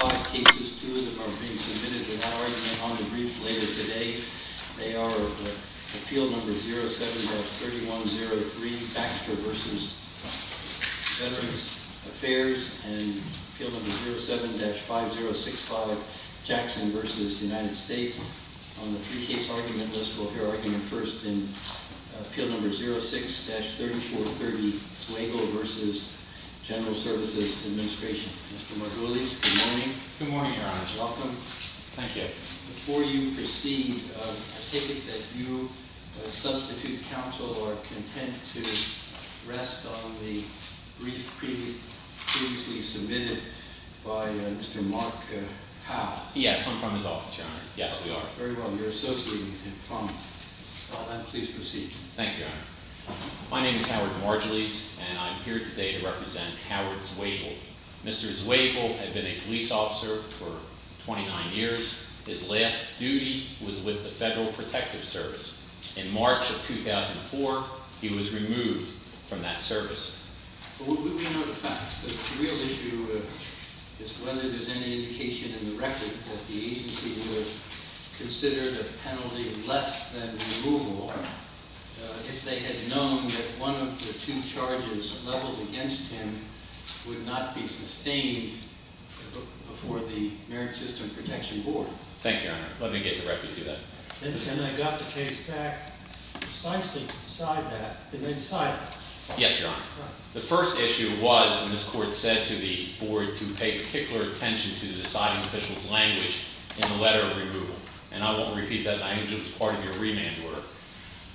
Five cases, two of them are being submitted without argument on the brief later today. They are Appeal Number 07-3103, Baxter v. Veterans Affairs, and Appeal Number 07-5065, Jackson v. United States. On the three-case argument list, we'll hear argument first in Appeal Number 06-3430, Swagel v. General Services Administration. Mr. Margulies, good morning. Good morning, Your Honor. Welcome. Thank you. Before you proceed, I take it that you, substitute counsel, are content to rest on the brief previously submitted by Mr. Mark Howes. Yes, I'm from his office, Your Honor. Yes, we are. Very well. Your associate is in front. With that, please proceed. Thank you, Your Honor. My name is Howard Margulies, and I'm here today to represent Howard Swagel. Mr. Swagel had been a police officer for 29 years. His last duty was with the Federal Protective Service. In March of 2004, he was removed from that service. But would we know the facts? The real issue is whether there's any indication in the record that the agency was considered a penalty less than removable. If they had known that one of the two charges leveled against him would not be sustained before the Merit System Protection Board. Thank you, Your Honor. Let me get directly to that. And I got the case back precisely to decide that. Did I decide that? Yes, Your Honor. The first issue was, and this Court said to the Board, to pay particular attention to the deciding official's language in the letter of removal. And I won't repeat that language. It was part of your remand order.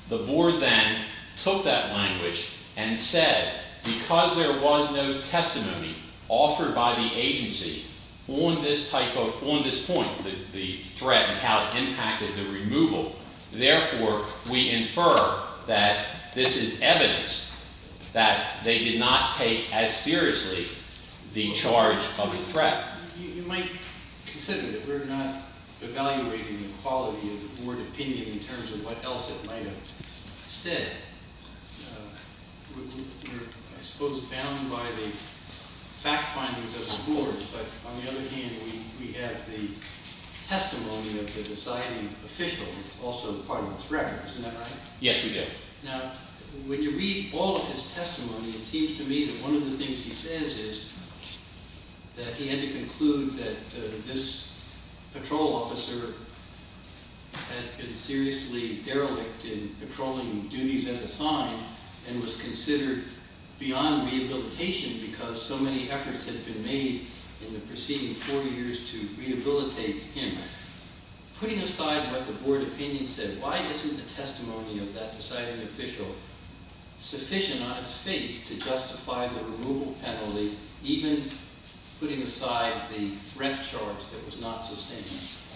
The Board then took that language and said, because there was no testimony offered by the agency on this type of – on this point, the threat and how it impacted the removal. Therefore, we infer that this is evidence that they did not take as seriously the charge of a threat. You might consider that we're not evaluating the quality of the Board opinion in terms of what else it might have said. We're, I suppose, bound by the fact findings of the Board. But on the other hand, we have the testimony of the deciding official, also part of this record. Isn't that right? Yes, we do. Now, when you read all of his testimony, it seems to me that one of the things he says is that he had to conclude that this patrol officer had been seriously derelict in patrolling duties as assigned and was considered beyond rehabilitation because so many efforts had been made in the preceding 40 years to rehabilitate him. Putting aside what the Board opinion said, why isn't the testimony of that deciding official sufficient on its face to justify the removal penalty, even putting aside the threat charge that was not sustained?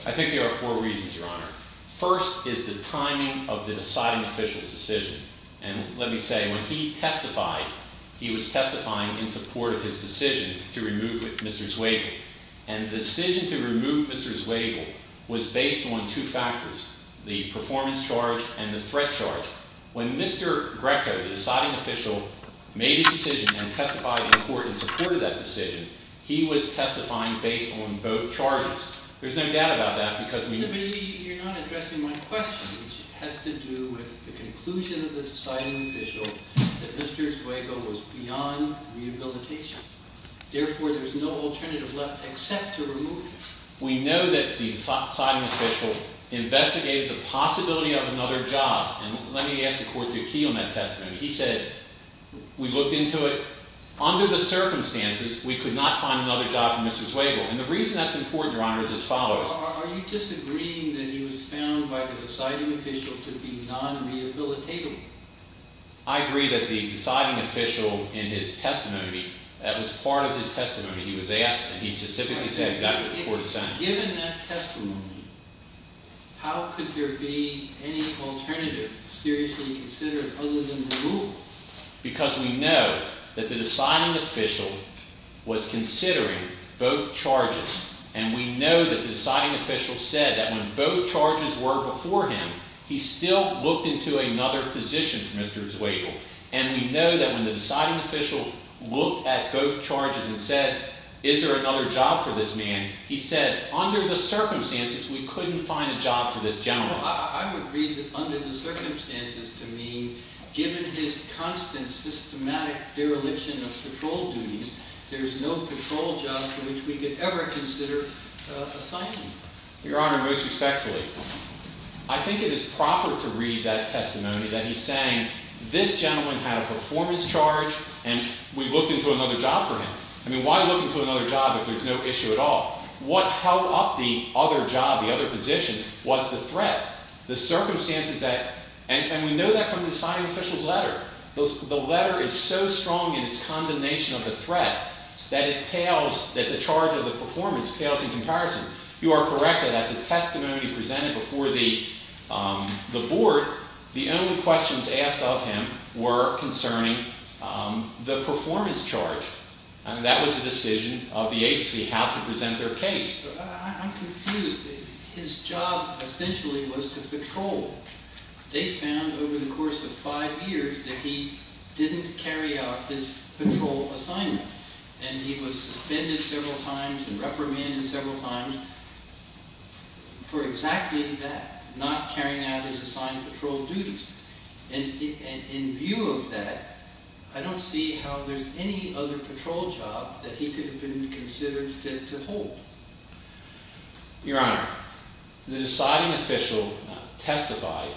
I think there are four reasons, Your Honor. First is the timing of the deciding official's decision. And let me say, when he testified, he was testifying in support of his decision to remove Mr. Zweigel. And the decision to remove Mr. Zweigel was based on two factors, the performance charge and the threat charge. When Mr. Greco, the deciding official, made his decision and testified in court in support of that decision, he was testifying based on both charges. There's no doubt about that because we— You're not addressing my question, which has to do with the conclusion of the deciding official that Mr. Zweigel was beyond rehabilitation. Therefore, there's no alternative left except to remove him. We know that the deciding official investigated the possibility of another job. And let me ask the court to key on that testimony. He said, we looked into it. Under the circumstances, we could not find another job for Mr. Zweigel. Are you disagreeing that he was found by the deciding official to be non-rehabilitable? I agree that the deciding official, in his testimony, that was part of his testimony. He was asked, and he specifically said exactly the court assigned him. Given that testimony, how could there be any alternative seriously considered other than removal? Because we know that the deciding official was considering both charges. And we know that the deciding official said that when both charges were before him, he still looked into another position for Mr. Zweigel. And we know that when the deciding official looked at both charges and said, is there another job for this man? He said, under the circumstances, we couldn't find a job for this gentleman. I would agree that under the circumstances to me, given his constant systematic dereliction of patrol duties, there's no patrol job for which we could ever consider assigning him. Your Honor, most respectfully, I think it is proper to read that testimony that he's saying, this gentleman had a performance charge, and we looked into another job for him. I mean, why look into another job if there's no issue at all? What held up the other job, the other position, was the threat. The circumstances that, and we know that from the deciding official's letter. The letter is so strong in its condemnation of the threat that it pales, that the charge of the performance pales in comparison. You are correct in that the testimony presented before the board, the only questions asked of him were concerning the performance charge. And that was the decision of the agency, how to present their case. I'm confused. His job essentially was to patrol. They found over the course of five years that he didn't carry out his patrol assignment. And he was suspended several times and reprimanded several times for exactly that, not carrying out his assigned patrol duties. And in view of that, I don't see how there's any other patrol job that he could have been considered fit to hold. Your Honor, the deciding official testified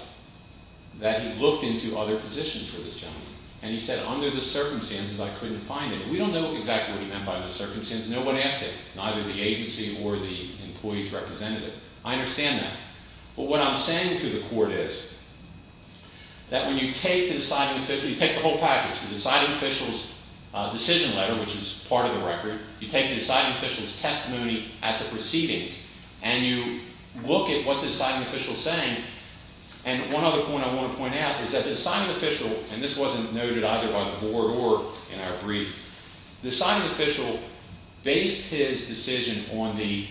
that he looked into other positions for this gentleman. And he said, under the circumstances, I couldn't find it. We don't know exactly what he meant by the circumstances. No one asked him, neither the agency or the employee's representative. I understand that. But what I'm saying to the court is that when you take the whole package, the deciding official's decision letter, which is part of the record, you take the deciding official's testimony at the proceedings, and you look at what the deciding official is saying, and one other point I want to point out is that the deciding official, and this wasn't noted either by the board or in our brief, the deciding official based his decision on the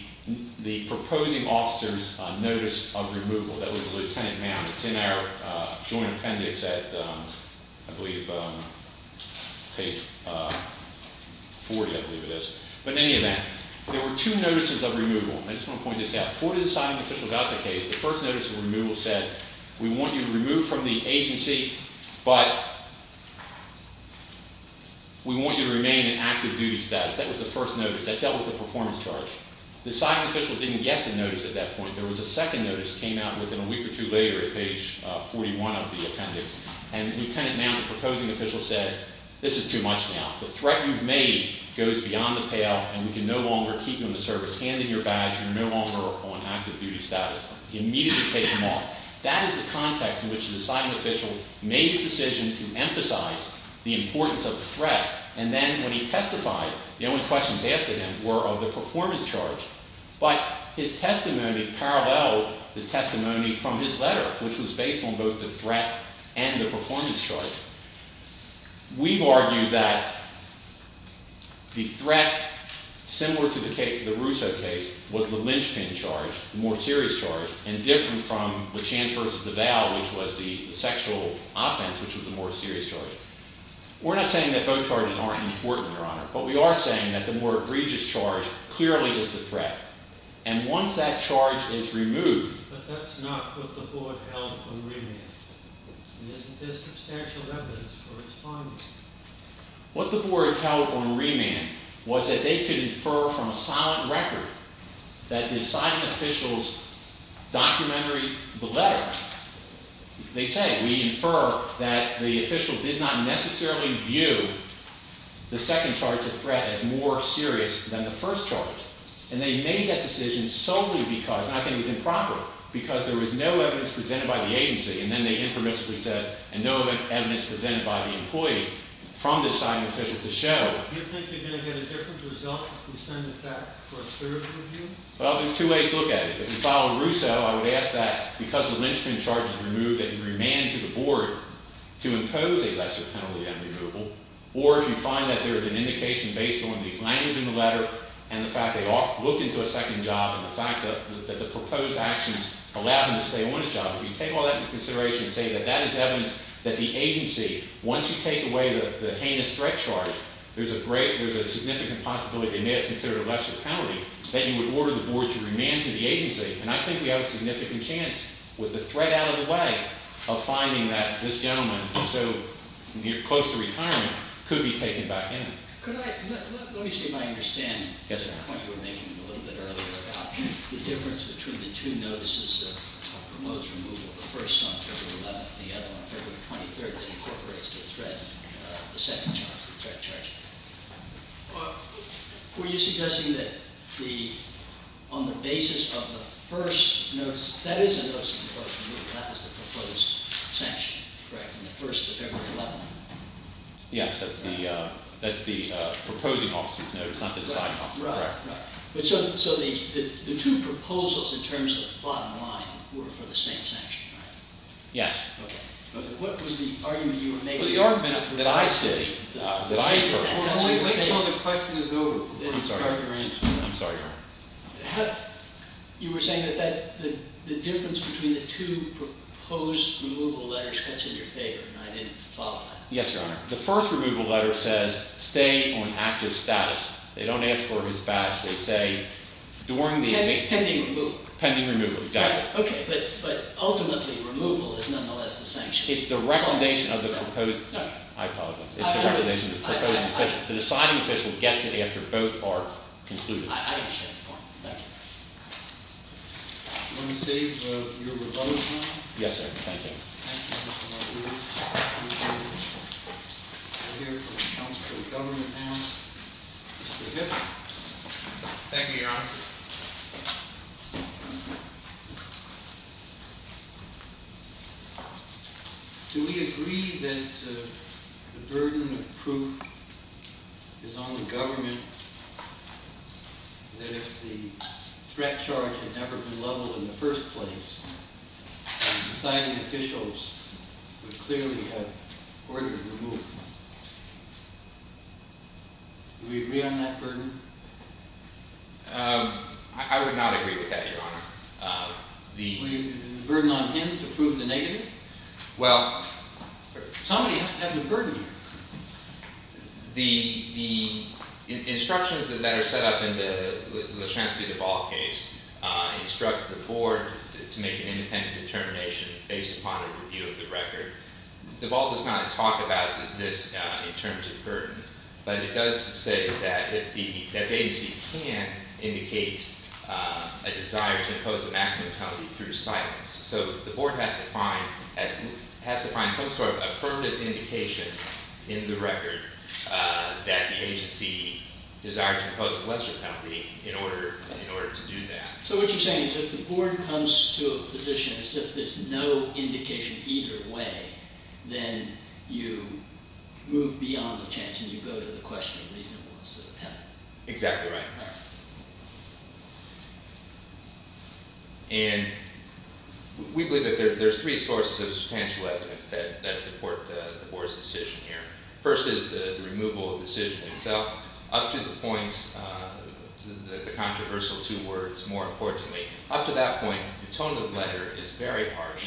proposing officer's notice of removal. That was Lieutenant Mound. It's in our joint appendix at, I believe, page 40, I believe it is. But in any event, there were two notices of removal. I just want to point this out. Before the deciding official got the case, the first notice of removal said, we want you to remove from the agency, but we want you to remain in active duty status. That was the first notice. That dealt with the performance charge. The deciding official didn't get the notice at that point. There was a second notice that came out within a week or two later at page 41 of the appendix, and Lieutenant Mound, the proposing official, said, this is too much now. The threat you've made goes beyond the payout, and we can no longer keep you in the service. Hand in your badge. You're no longer on active duty status. He immediately took them off. That is the context in which the deciding official made his decision to emphasize the importance of the threat, and then when he testified, the only questions asked of him were of the performance charge. But his testimony paralleled the testimony from his letter, which was based on both the threat and the performance charge. We've argued that the threat, similar to the Russo case, was the lynchpin charge, the more serious charge, and different from the chance versus the vow, which was the sexual offense, which was the more serious charge. We're not saying that both charges aren't important, Your Honor, but we are saying that the more egregious charge clearly is the threat, and once that charge is removed. But that's not what the board held on remand, and isn't there substantial evidence for its finding? What the board held on remand was that they could infer from a silent record that the deciding official's documentary letter, they say, we infer that the official did not necessarily view the second charge of threat as more serious than the first charge, and they made that decision solely because, and I think it's improper, because there was no evidence presented by the agency, and then they impermissibly said, and no evidence presented by the employee from the deciding official to show. Do you think you're going to get a different result if we send the fact for a further review? Well, there's two ways to look at it. If you follow Russo, I would ask that because the lynchpin charge is removed, that you remand to the board to impose a lesser penalty on removal, or if you find that there is an indication based on the language in the letter and the fact they looked into a second job and the fact that the proposed actions allowed them to stay on the job, if you take all that into consideration and say that that is evidence that the agency, once you take away the heinous threat charge, there's a significant possibility they may have considered a lesser penalty, that you would order the board to remand to the agency. And I think we have a significant chance, with the threat out of the way, of finding that this gentleman, so close to retirement, could be taken back in. Could I, let me see if I understand the point you were making a little bit earlier about the difference between the two notices of promotes removal, the first on February 11th and the other on February 23rd that incorporates the threat, the second charge, the threat charge. Were you suggesting that the, on the basis of the first notice, that is a notice of promotes removal, that was the proposed sanction, correct, on the first of February 11th? Yes, that's the, that's the proposing officer's notice, not the deciding officer, correct. Right, right. So the two proposals in terms of the bottom line were for the same sanction, right? Yes. Okay. What was the argument you were making? Well, the argument that I said, that I concurred. Wait until the question is over. I'm sorry. I'm sorry, Your Honor. You were saying that the difference between the two proposed removal letters cuts in your favor, and I didn't follow that. Yes, Your Honor. The first removal letter says, stay on active status. They don't ask for his badge. They say, during the event. Pending removal. Pending removal, exactly. Okay, but ultimately, removal is nonetheless the sanction. It's the recommendation of the proposed, no, I apologize. It's the recommendation of the proposing official. The deciding official gets it after both are concluded. I understand the point. Thank you. Let me see your proposal. Yes, sir. Thank you. Thank you, Mr. Barbieri. We're here for the Council of Government now. Mr. Hipp. Thank you, Your Honor. Do we agree that the burden of proof is on the government, that if the threat charge had never been leveled in the first place, the deciding officials would clearly have ordered removal? Do we agree on that burden? I would not agree with that, Your Honor. The burden on him to prove the negative? Well, Somebody has a burden here. The instructions that are set up in the Lashansky-DeVault case instruct the board to make an independent determination based upon a review of the record. DeVault does not talk about this in terms of burden, but it does say that the agency can indicate a desire to impose a maximum penalty through silence. So the board has to find some sort of affirmative indication in the record that the agency desired to impose a lesser penalty in order to do that. So what you're saying is if the board comes to a position that says there's no indication either way, then you move beyond the chances you go to the question of reasonableness of the penalty? Exactly right. All right. And we believe that there's three sources of substantial evidence that support the board's decision here. First is the removal of the decision itself. Up to the point, the controversial two words, more importantly, up to that point, the tone of the letter is very harsh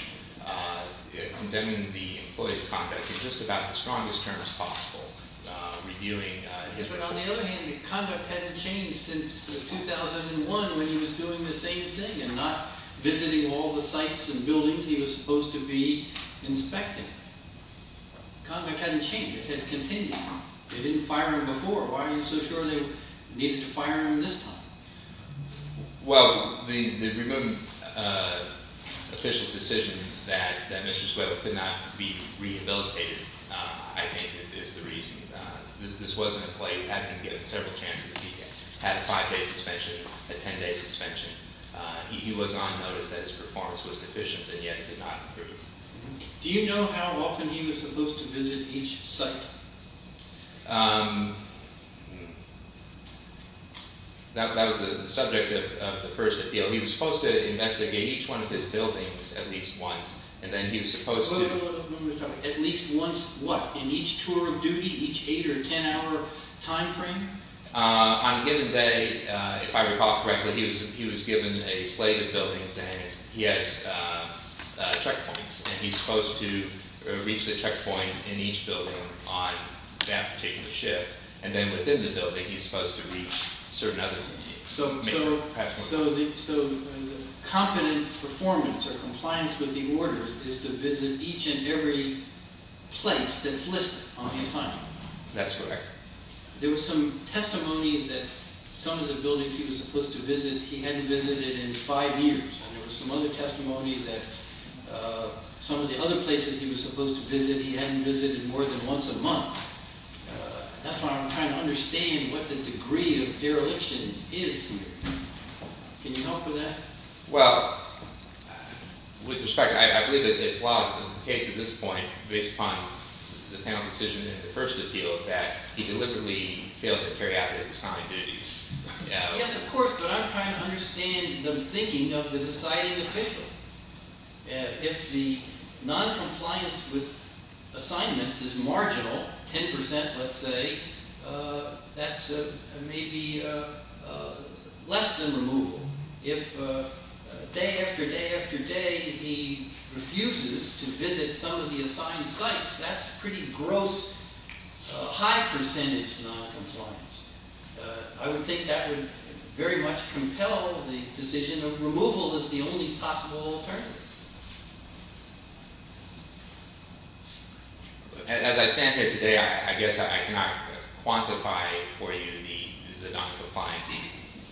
condemning the employee's conduct in just about the strongest terms possible, reviewing his record. Yes, but on the other hand, the conduct hadn't changed since 2001 when he was doing the same thing and not visiting all the sites and buildings he was supposed to be inspecting. Conduct hadn't changed. It had continued. They didn't fire him before. Why are you so sure they needed to fire him this time? Well, the removed official's decision that Mr. Swift could not be rehabilitated, I think, is the reason. This was an employee who had been given several chances. He had a five-day suspension, a 10-day suspension. He was on notice that his performance was deficient and yet could not improve. Do you know how often he was supposed to visit each site? That was the subject of the first appeal. He was supposed to investigate each one of his buildings at least once, and then he was supposed to— At least once what? In each tour of duty, each eight- or ten-hour time frame? On a given day, if I recall correctly, he was given a slate of buildings, and he has checkpoints, and he's supposed to reach the checkpoints in each building on that particular shift. And then within the building, he's supposed to reach certain other— So the competent performance or compliance with the orders is to visit each and every place that's listed on the assignment. That's correct. There was some testimony that some of the buildings he was supposed to visit he hadn't visited in five years, and there was some other testimony that some of the other places he was supposed to visit he hadn't visited more than once a month. That's why I'm trying to understand what the degree of dereliction is here. Can you help with that? Well, with respect, I believe that it's law in the case at this point, based upon the panel's decision in the first appeal, that he deliberately failed to carry out his assigned duties. Yes, of course, but I'm trying to understand the thinking of the deciding official. If the noncompliance with assignments is marginal, 10%, let's say, that's maybe less than removal. If day after day after day he refuses to visit some of the assigned sites, that's pretty gross, high-percentage noncompliance. I would think that would very much compel the decision of removal as the only possible alternative. As I stand here today, I guess I cannot quantify for you the noncompliance.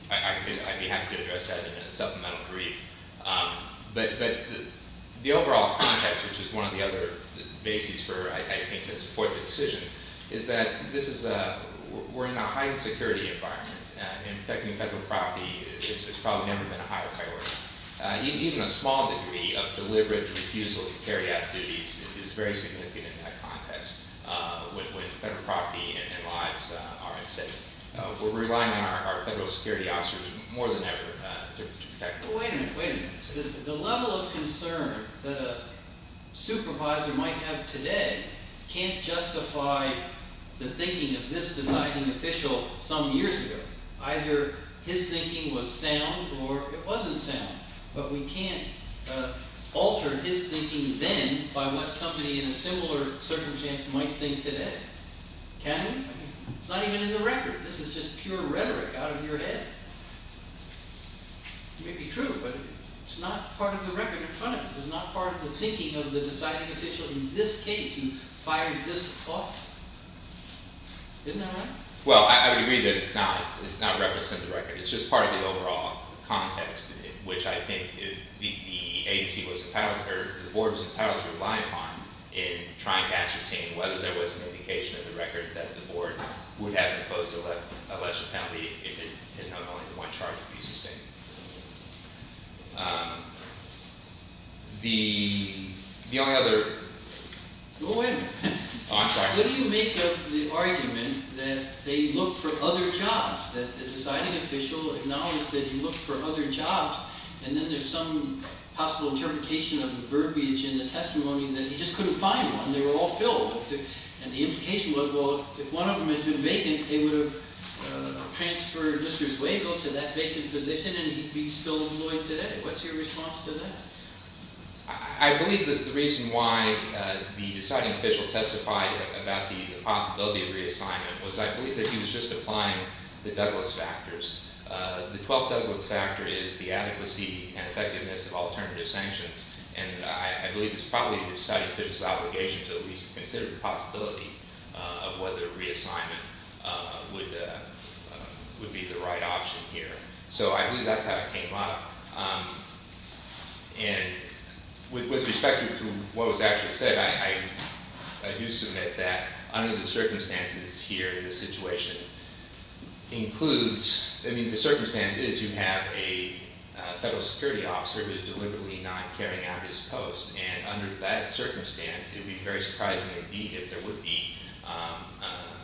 I'd be happy to address that in a supplemental brief. But the overall context, which is one of the other bases for, I think, to support the decision, is that we're in a high-security environment. And protecting federal property has probably never been a higher priority. Even a small degree of deliberate refusal to carry out duties is very significant in that context when federal property and lives are at stake. We're relying on our federal security officers more than ever to protect them. Wait a minute, wait a minute. The level of concern that a supervisor might have today can't justify the thinking of this deciding official some years ago. Either his thinking was sound or it wasn't sound. But we can't alter his thinking then by what somebody in a similar circumstance might think today, can we? It's not even in the record. This is just pure rhetoric out of your head. It may be true, but it's not part of the record in front of you. It's not part of the thinking of the deciding official in this case who fired this officer. Isn't that right? Well, I would agree that it's not referenced in the record. It's just part of the overall context in which I think the agency was entitled or the board was entitled to rely upon in trying to ascertain whether there was an indication in the record that the board would have imposed a lesser penalty if not only the one charge would be sustained. The only other- Well, wait a minute. I'm sorry. What do you make of the argument that they looked for other jobs, that the deciding official acknowledged that he looked for other jobs, and then there's some possible interpretation of the verbiage in the testimony that he just couldn't find one. They were all filled. And the implication was, well, if one of them had been vacant, they would have transferred Mr. Zuego to that vacant position and he'd be still employed today. What's your response to that? I believe that the reason why the deciding official testified about the possibility of reassignment was I believe that he was just applying the Douglas factors. The 12 Douglas factor is the adequacy and effectiveness of alternative sanctions, and I believe it's probably the deciding official's obligation to at least consider the possibility of whether reassignment would be the right option here. So I believe that's how it came up. And with respect to what was actually said, I do submit that under the circumstances here, the situation includes-I mean, the circumstance is you have a federal security officer who is deliberately not carrying out his post. And under that circumstance, it would be very surprising, indeed, if there would be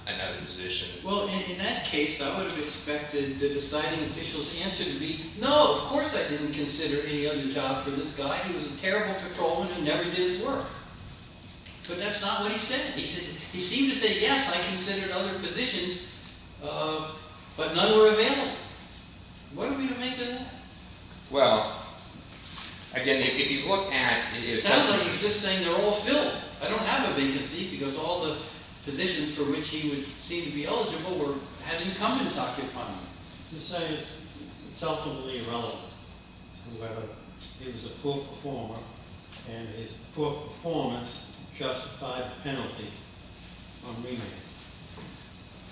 another position. Well, in that case, I would have expected the deciding official's answer to be, no, of course I didn't consider any other job for this guy. He was a terrible patrolman who never did his work. But that's not what he said. He seemed to say, yes, I considered other positions, but none were available. What are we to make of that? Well, again, if you look at- It sounds like he's just saying they're all filled. I don't have a vacancy because all the positions for which he would seem to be eligible had incumbents occupying them. You say it's self-evidently irrelevant to whether he was a poor performer and his poor performance justified the penalty on remand,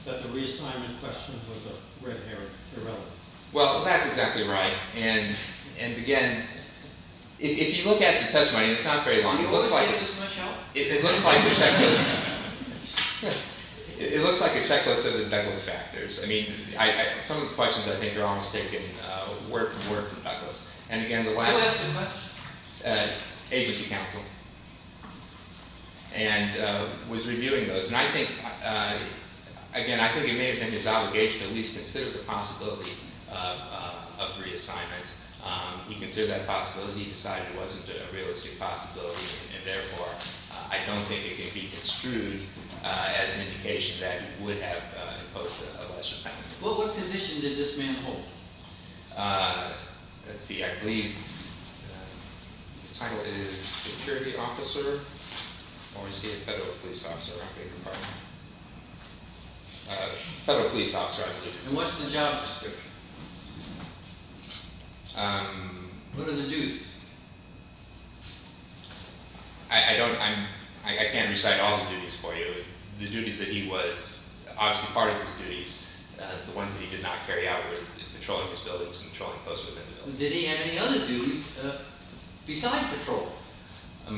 that the reassignment question was a red herring, irrelevant. Well, that's exactly right. And again, if you look at the testimony, it's not very long. It looks like a checklist of the Douglas factors. I mean, some of the questions I think are almost taken word for word from Douglas. And again, the last- Who asked the question? Agency counsel. And was reviewing those. And I think, again, I think it may have been his obligation to at least consider the possibility of reassignment. He considered that possibility. He decided it wasn't a realistic possibility. And therefore, I don't think it can be construed as an indication that he would have imposed a lesser penalty. Well, what position did this man hold? Let's see. I believe the title is security officer. Or is he a federal police officer? I beg your pardon? Federal police officer, I believe. And what's the job description? What are the duties? I don't- I can't recite all the duties for you. The duties that he was- obviously part of his duties, the ones that he did not carry out were patrolling his buildings and patrolling closer to the building. Did he have any other duties besides patrol? I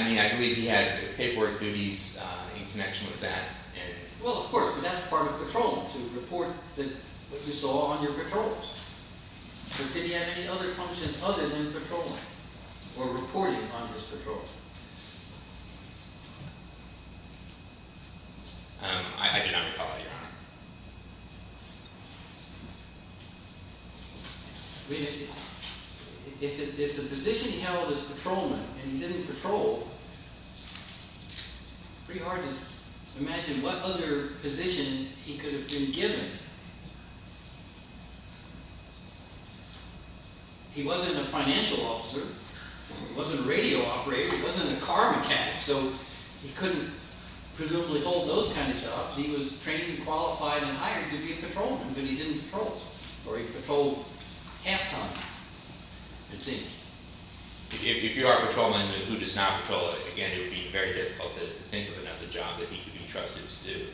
mean, I believe he had paperwork duties in connection with that. Well, of course, but that's part of patrolling, to report what you saw on your patrols. But did he have any other functions other than patrolling or reporting on his patrols? I mean, if the position he held was patrolman and he didn't patrol, it's pretty hard to imagine what other position he could have been given. He wasn't a financial officer. He wasn't a radio operator. He wasn't a car mechanic. So he couldn't presumably hold those kind of jobs. He was trained and qualified and hired to be a patrolman, but he didn't patrol. Or he patrolled half-time, it seems. If you are a patrolman, who does not patrol, again, it would be very difficult to think of another job that he could be trusted to do.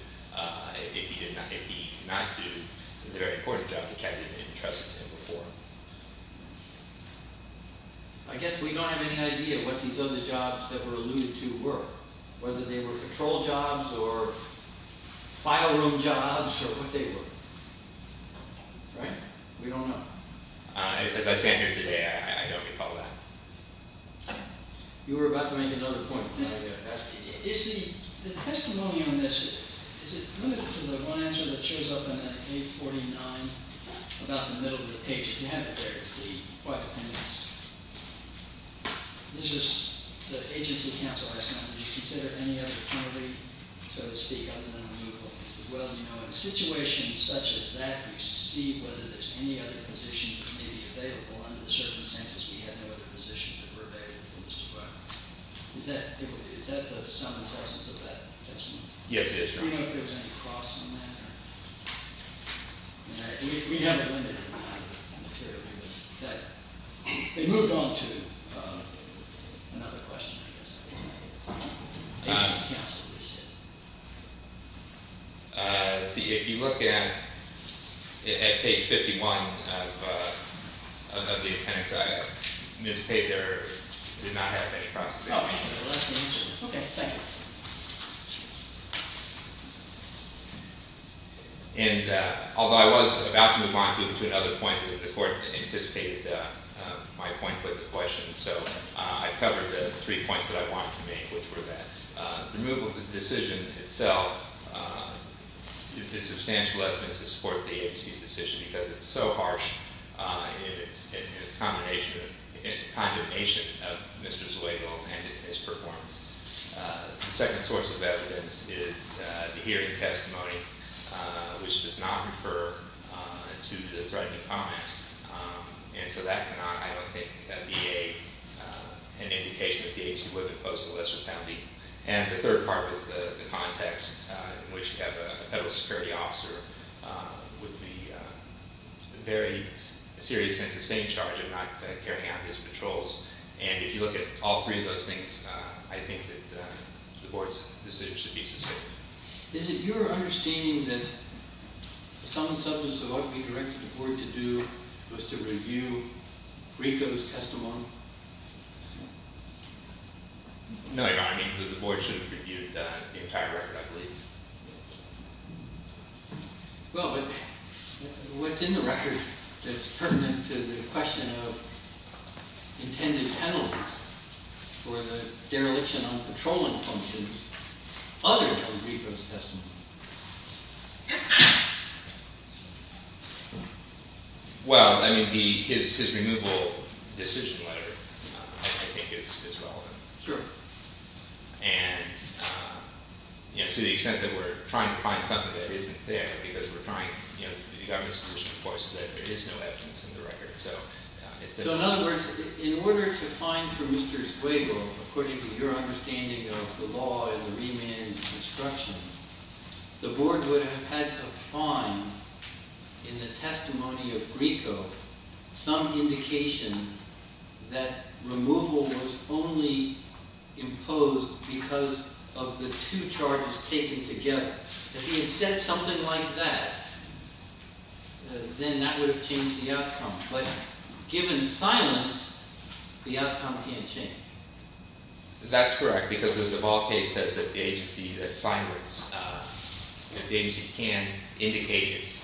If he did not- if he did not do a very important job, the cabinet didn't trust him before. I guess we don't have any idea what these other jobs that were alluded to were. Whether they were patrol jobs or file room jobs or what they were. Right? We don't know. As I stand here today, I don't recall that. You were about to make another point. Is the testimony on this, is it limited to the one answer that shows up on page 49, about the middle of the page? If you have it there, it's quite the thing. It's just the agency counsel asked me, did you consider any other penalty, so to speak, other than removal? I said, well, you know, in a situation such as that, you see whether there's any other positions that may be available. Under the circumstances, we had no other positions that were available as well. Is that the sum and substance of that testimony? Yes, it is, Your Honor. Do we know if there was any cost in that? We have a limited amount of material. They moved on to another question, I guess. Agency counsel listed. Let's see. If you look at page 51 of the appendix, Ms. Paye, there did not have any processing. Okay. Thank you. And although I was about to move on to another point, the court anticipated my point with the question, so I covered the three points that I wanted to make, which were that the removal of the decision itself is a substantial evidence to support the agency's decision because it's so harsh in its condemnation of Mr. Zuegel and his performance. The second source of evidence is the hearing testimony, which does not refer to the threatening comment. And so that cannot, I don't think, be an indication that the agency would have imposed a lesser penalty. And the third part was the context in which you have a federal security officer with the very serious and sustained charge of not carrying out his patrols. And if you look at all three of those things, I think that the board's decision should be sustained. Is it your understanding that some substance of what we directed the board to do was to review RICO's testimony? No, Your Honor. I think that the board should have reviewed the entire record, I believe. Well, but what's in the record that's pertinent to the question of intended penalties for the dereliction on patrolling functions other than RICO's testimony? Well, I mean, his removal decision letter, I think, is relevant. Sure. And to the extent that we're trying to find something that isn't there because we're trying, you know, the government's position, of course, is that there is no evidence in the record. So, in other words, in order to find for Mr. Sguego, according to your understanding of the law and the remand and the obstruction, the board would have had to find in the testimony of RICO some indication that removal was only imposed because of the two charges taken together. If he had said something like that, then that would have changed the outcome. But given silence, the outcome can't change. That's correct because the Duval case says that the agency that silenced, that the agency can indicate its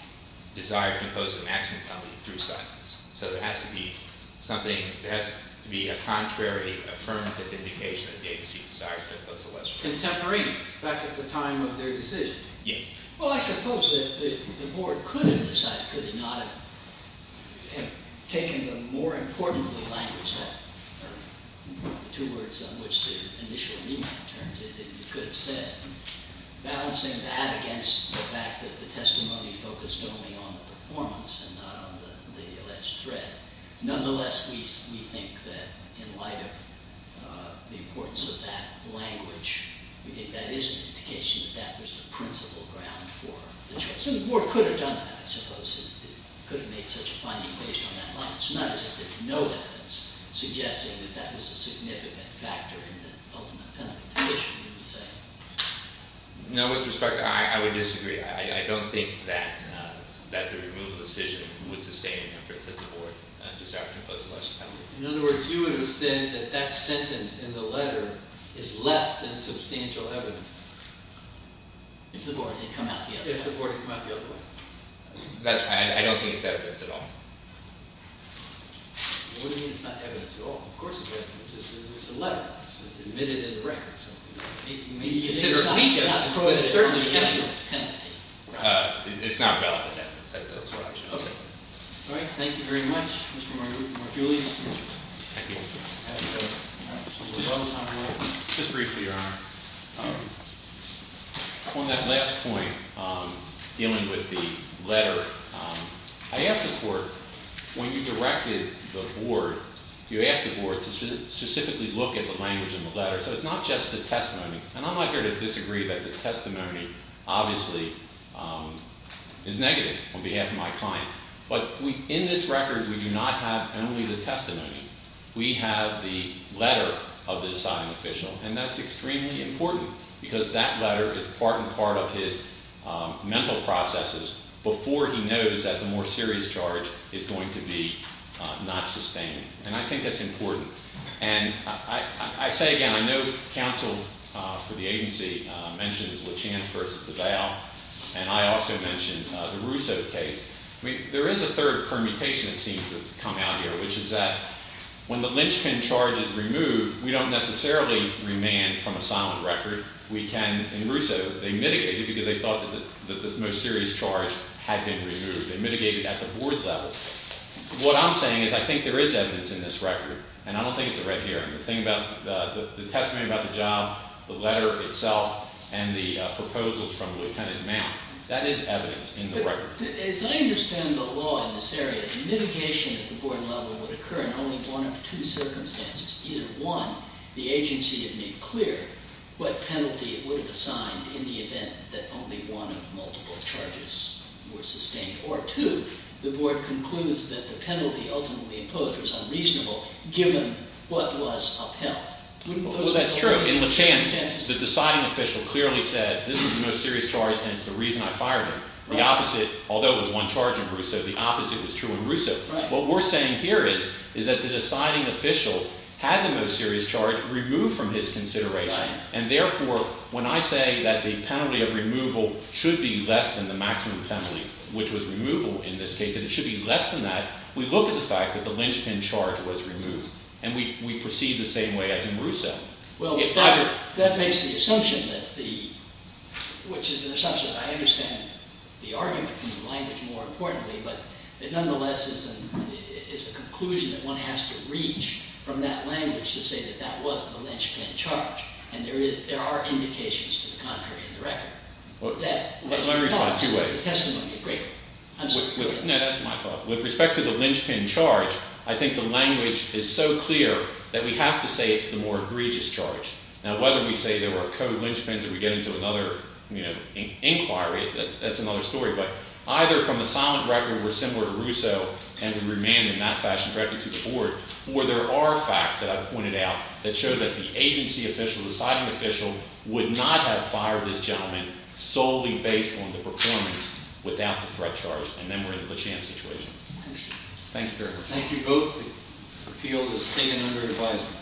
desire to impose a maximum penalty through silence. So there has to be something, there has to be a contrary affirmative indication that the agency decided to impose a lesser penalty. Contemporaneous, back at the time of their decision. Yes. Well, I suppose that the board could have decided, could it not have taken the more importantly language, the two words on which the initial remand terms, it could have said, balancing that against the fact that the testimony focused only on the performance and not on the alleged threat. Nonetheless, we think that in light of the importance of that language, we think that is an indication that that was the principal ground for the choice. And the board could have done that, I suppose. It could have made such a finding based on that language. Not as if there were no evidence suggesting that that was a significant factor in the ultimate penalty decision, you would say. No, with respect, I would disagree. I don't think that the removal decision would sustain an inference that the board decided to impose a lesser penalty. In other words, you would have said that that sentence in the letter is less than substantial evidence. If the board had come out the other way. If the board had come out the other way. I don't think it's evidence at all. What do you mean it's not evidence at all? Of course it's evidence. It's a letter. It's admitted in the records. It's weak evidence, but it's certainly evidence. It's not valid evidence. That's what I'm trying to say. All right. Thank you very much, Mr. Marguerite. Mark Julius. Thank you. Just briefly, Your Honor. On that last point, dealing with the letter, I ask the court, when you directed the board, you asked the board to specifically look at the language in the letter. So it's not just the testimony. And I'm not here to disagree that the testimony obviously is negative on behalf of my client. But in this record, we do not have only the testimony. We have the letter of the deciding official. And that's extremely important because that letter is part and part of his mental processes before he knows that the more serious charge is going to be not sustained. And I think that's important. And I say again, I know counsel for the agency mentions Lachance v. DeVal, and I also mentioned the Russo case. There is a third permutation that seems to have come out here, which is that when the lynchpin charge is removed, we don't necessarily remand from a silent record. We can, in Russo, they mitigated because they thought that this most serious charge had been removed. They mitigated at the board level. What I'm saying is I think there is evidence in this record, and I don't think it's right here. The thing about the testimony about the job, the letter itself, and the proposals from Lieutenant Mount, that is evidence in the record. As I understand the law in this area, the mitigation at the board level would occur in only one of two circumstances. Either one, the agency had made clear what penalty it would have assigned in the event that only one of multiple charges was sustained. Or two, the board concludes that the penalty ultimately imposed was unreasonable given what was upheld. Well, that's true. In Lachance, the deciding official clearly said this is the most serious charge, and it's the reason I fired him. The opposite, although it was one charge in Russo, the opposite was true in Russo. What we're saying here is that the deciding official had the most serious charge removed from his consideration, and therefore when I say that the penalty of removal should be less than the maximum penalty, which was removal in this case, and it should be less than that, we look at the fact that the lynchpin charge was removed, and we proceed the same way as in Russo. Well, that makes the assumption that the – which is an assumption that I understand the argument from the language more importantly, but it nonetheless is a conclusion that one has to reach from that language to say that that was the lynchpin charge, and there are indications to the contrary in the record. Let me respond in two ways. The testimony of Gregor. No, that's my fault. With respect to the lynchpin charge, I think the language is so clear that we have to say it's the more egregious charge. Now, whether we say there were co-lynchpins or we get into another inquiry, that's another story. But either from a silent record we're similar to Russo and we remain in that fashion directly to the board, or there are facts that I've pointed out that show that the agency official, the siding official, would not have fired this gentleman solely based on the performance without the threat charge, and then we're in the LeChan situation. Thank you very much. Thank you both. The appeal is taken under advisement.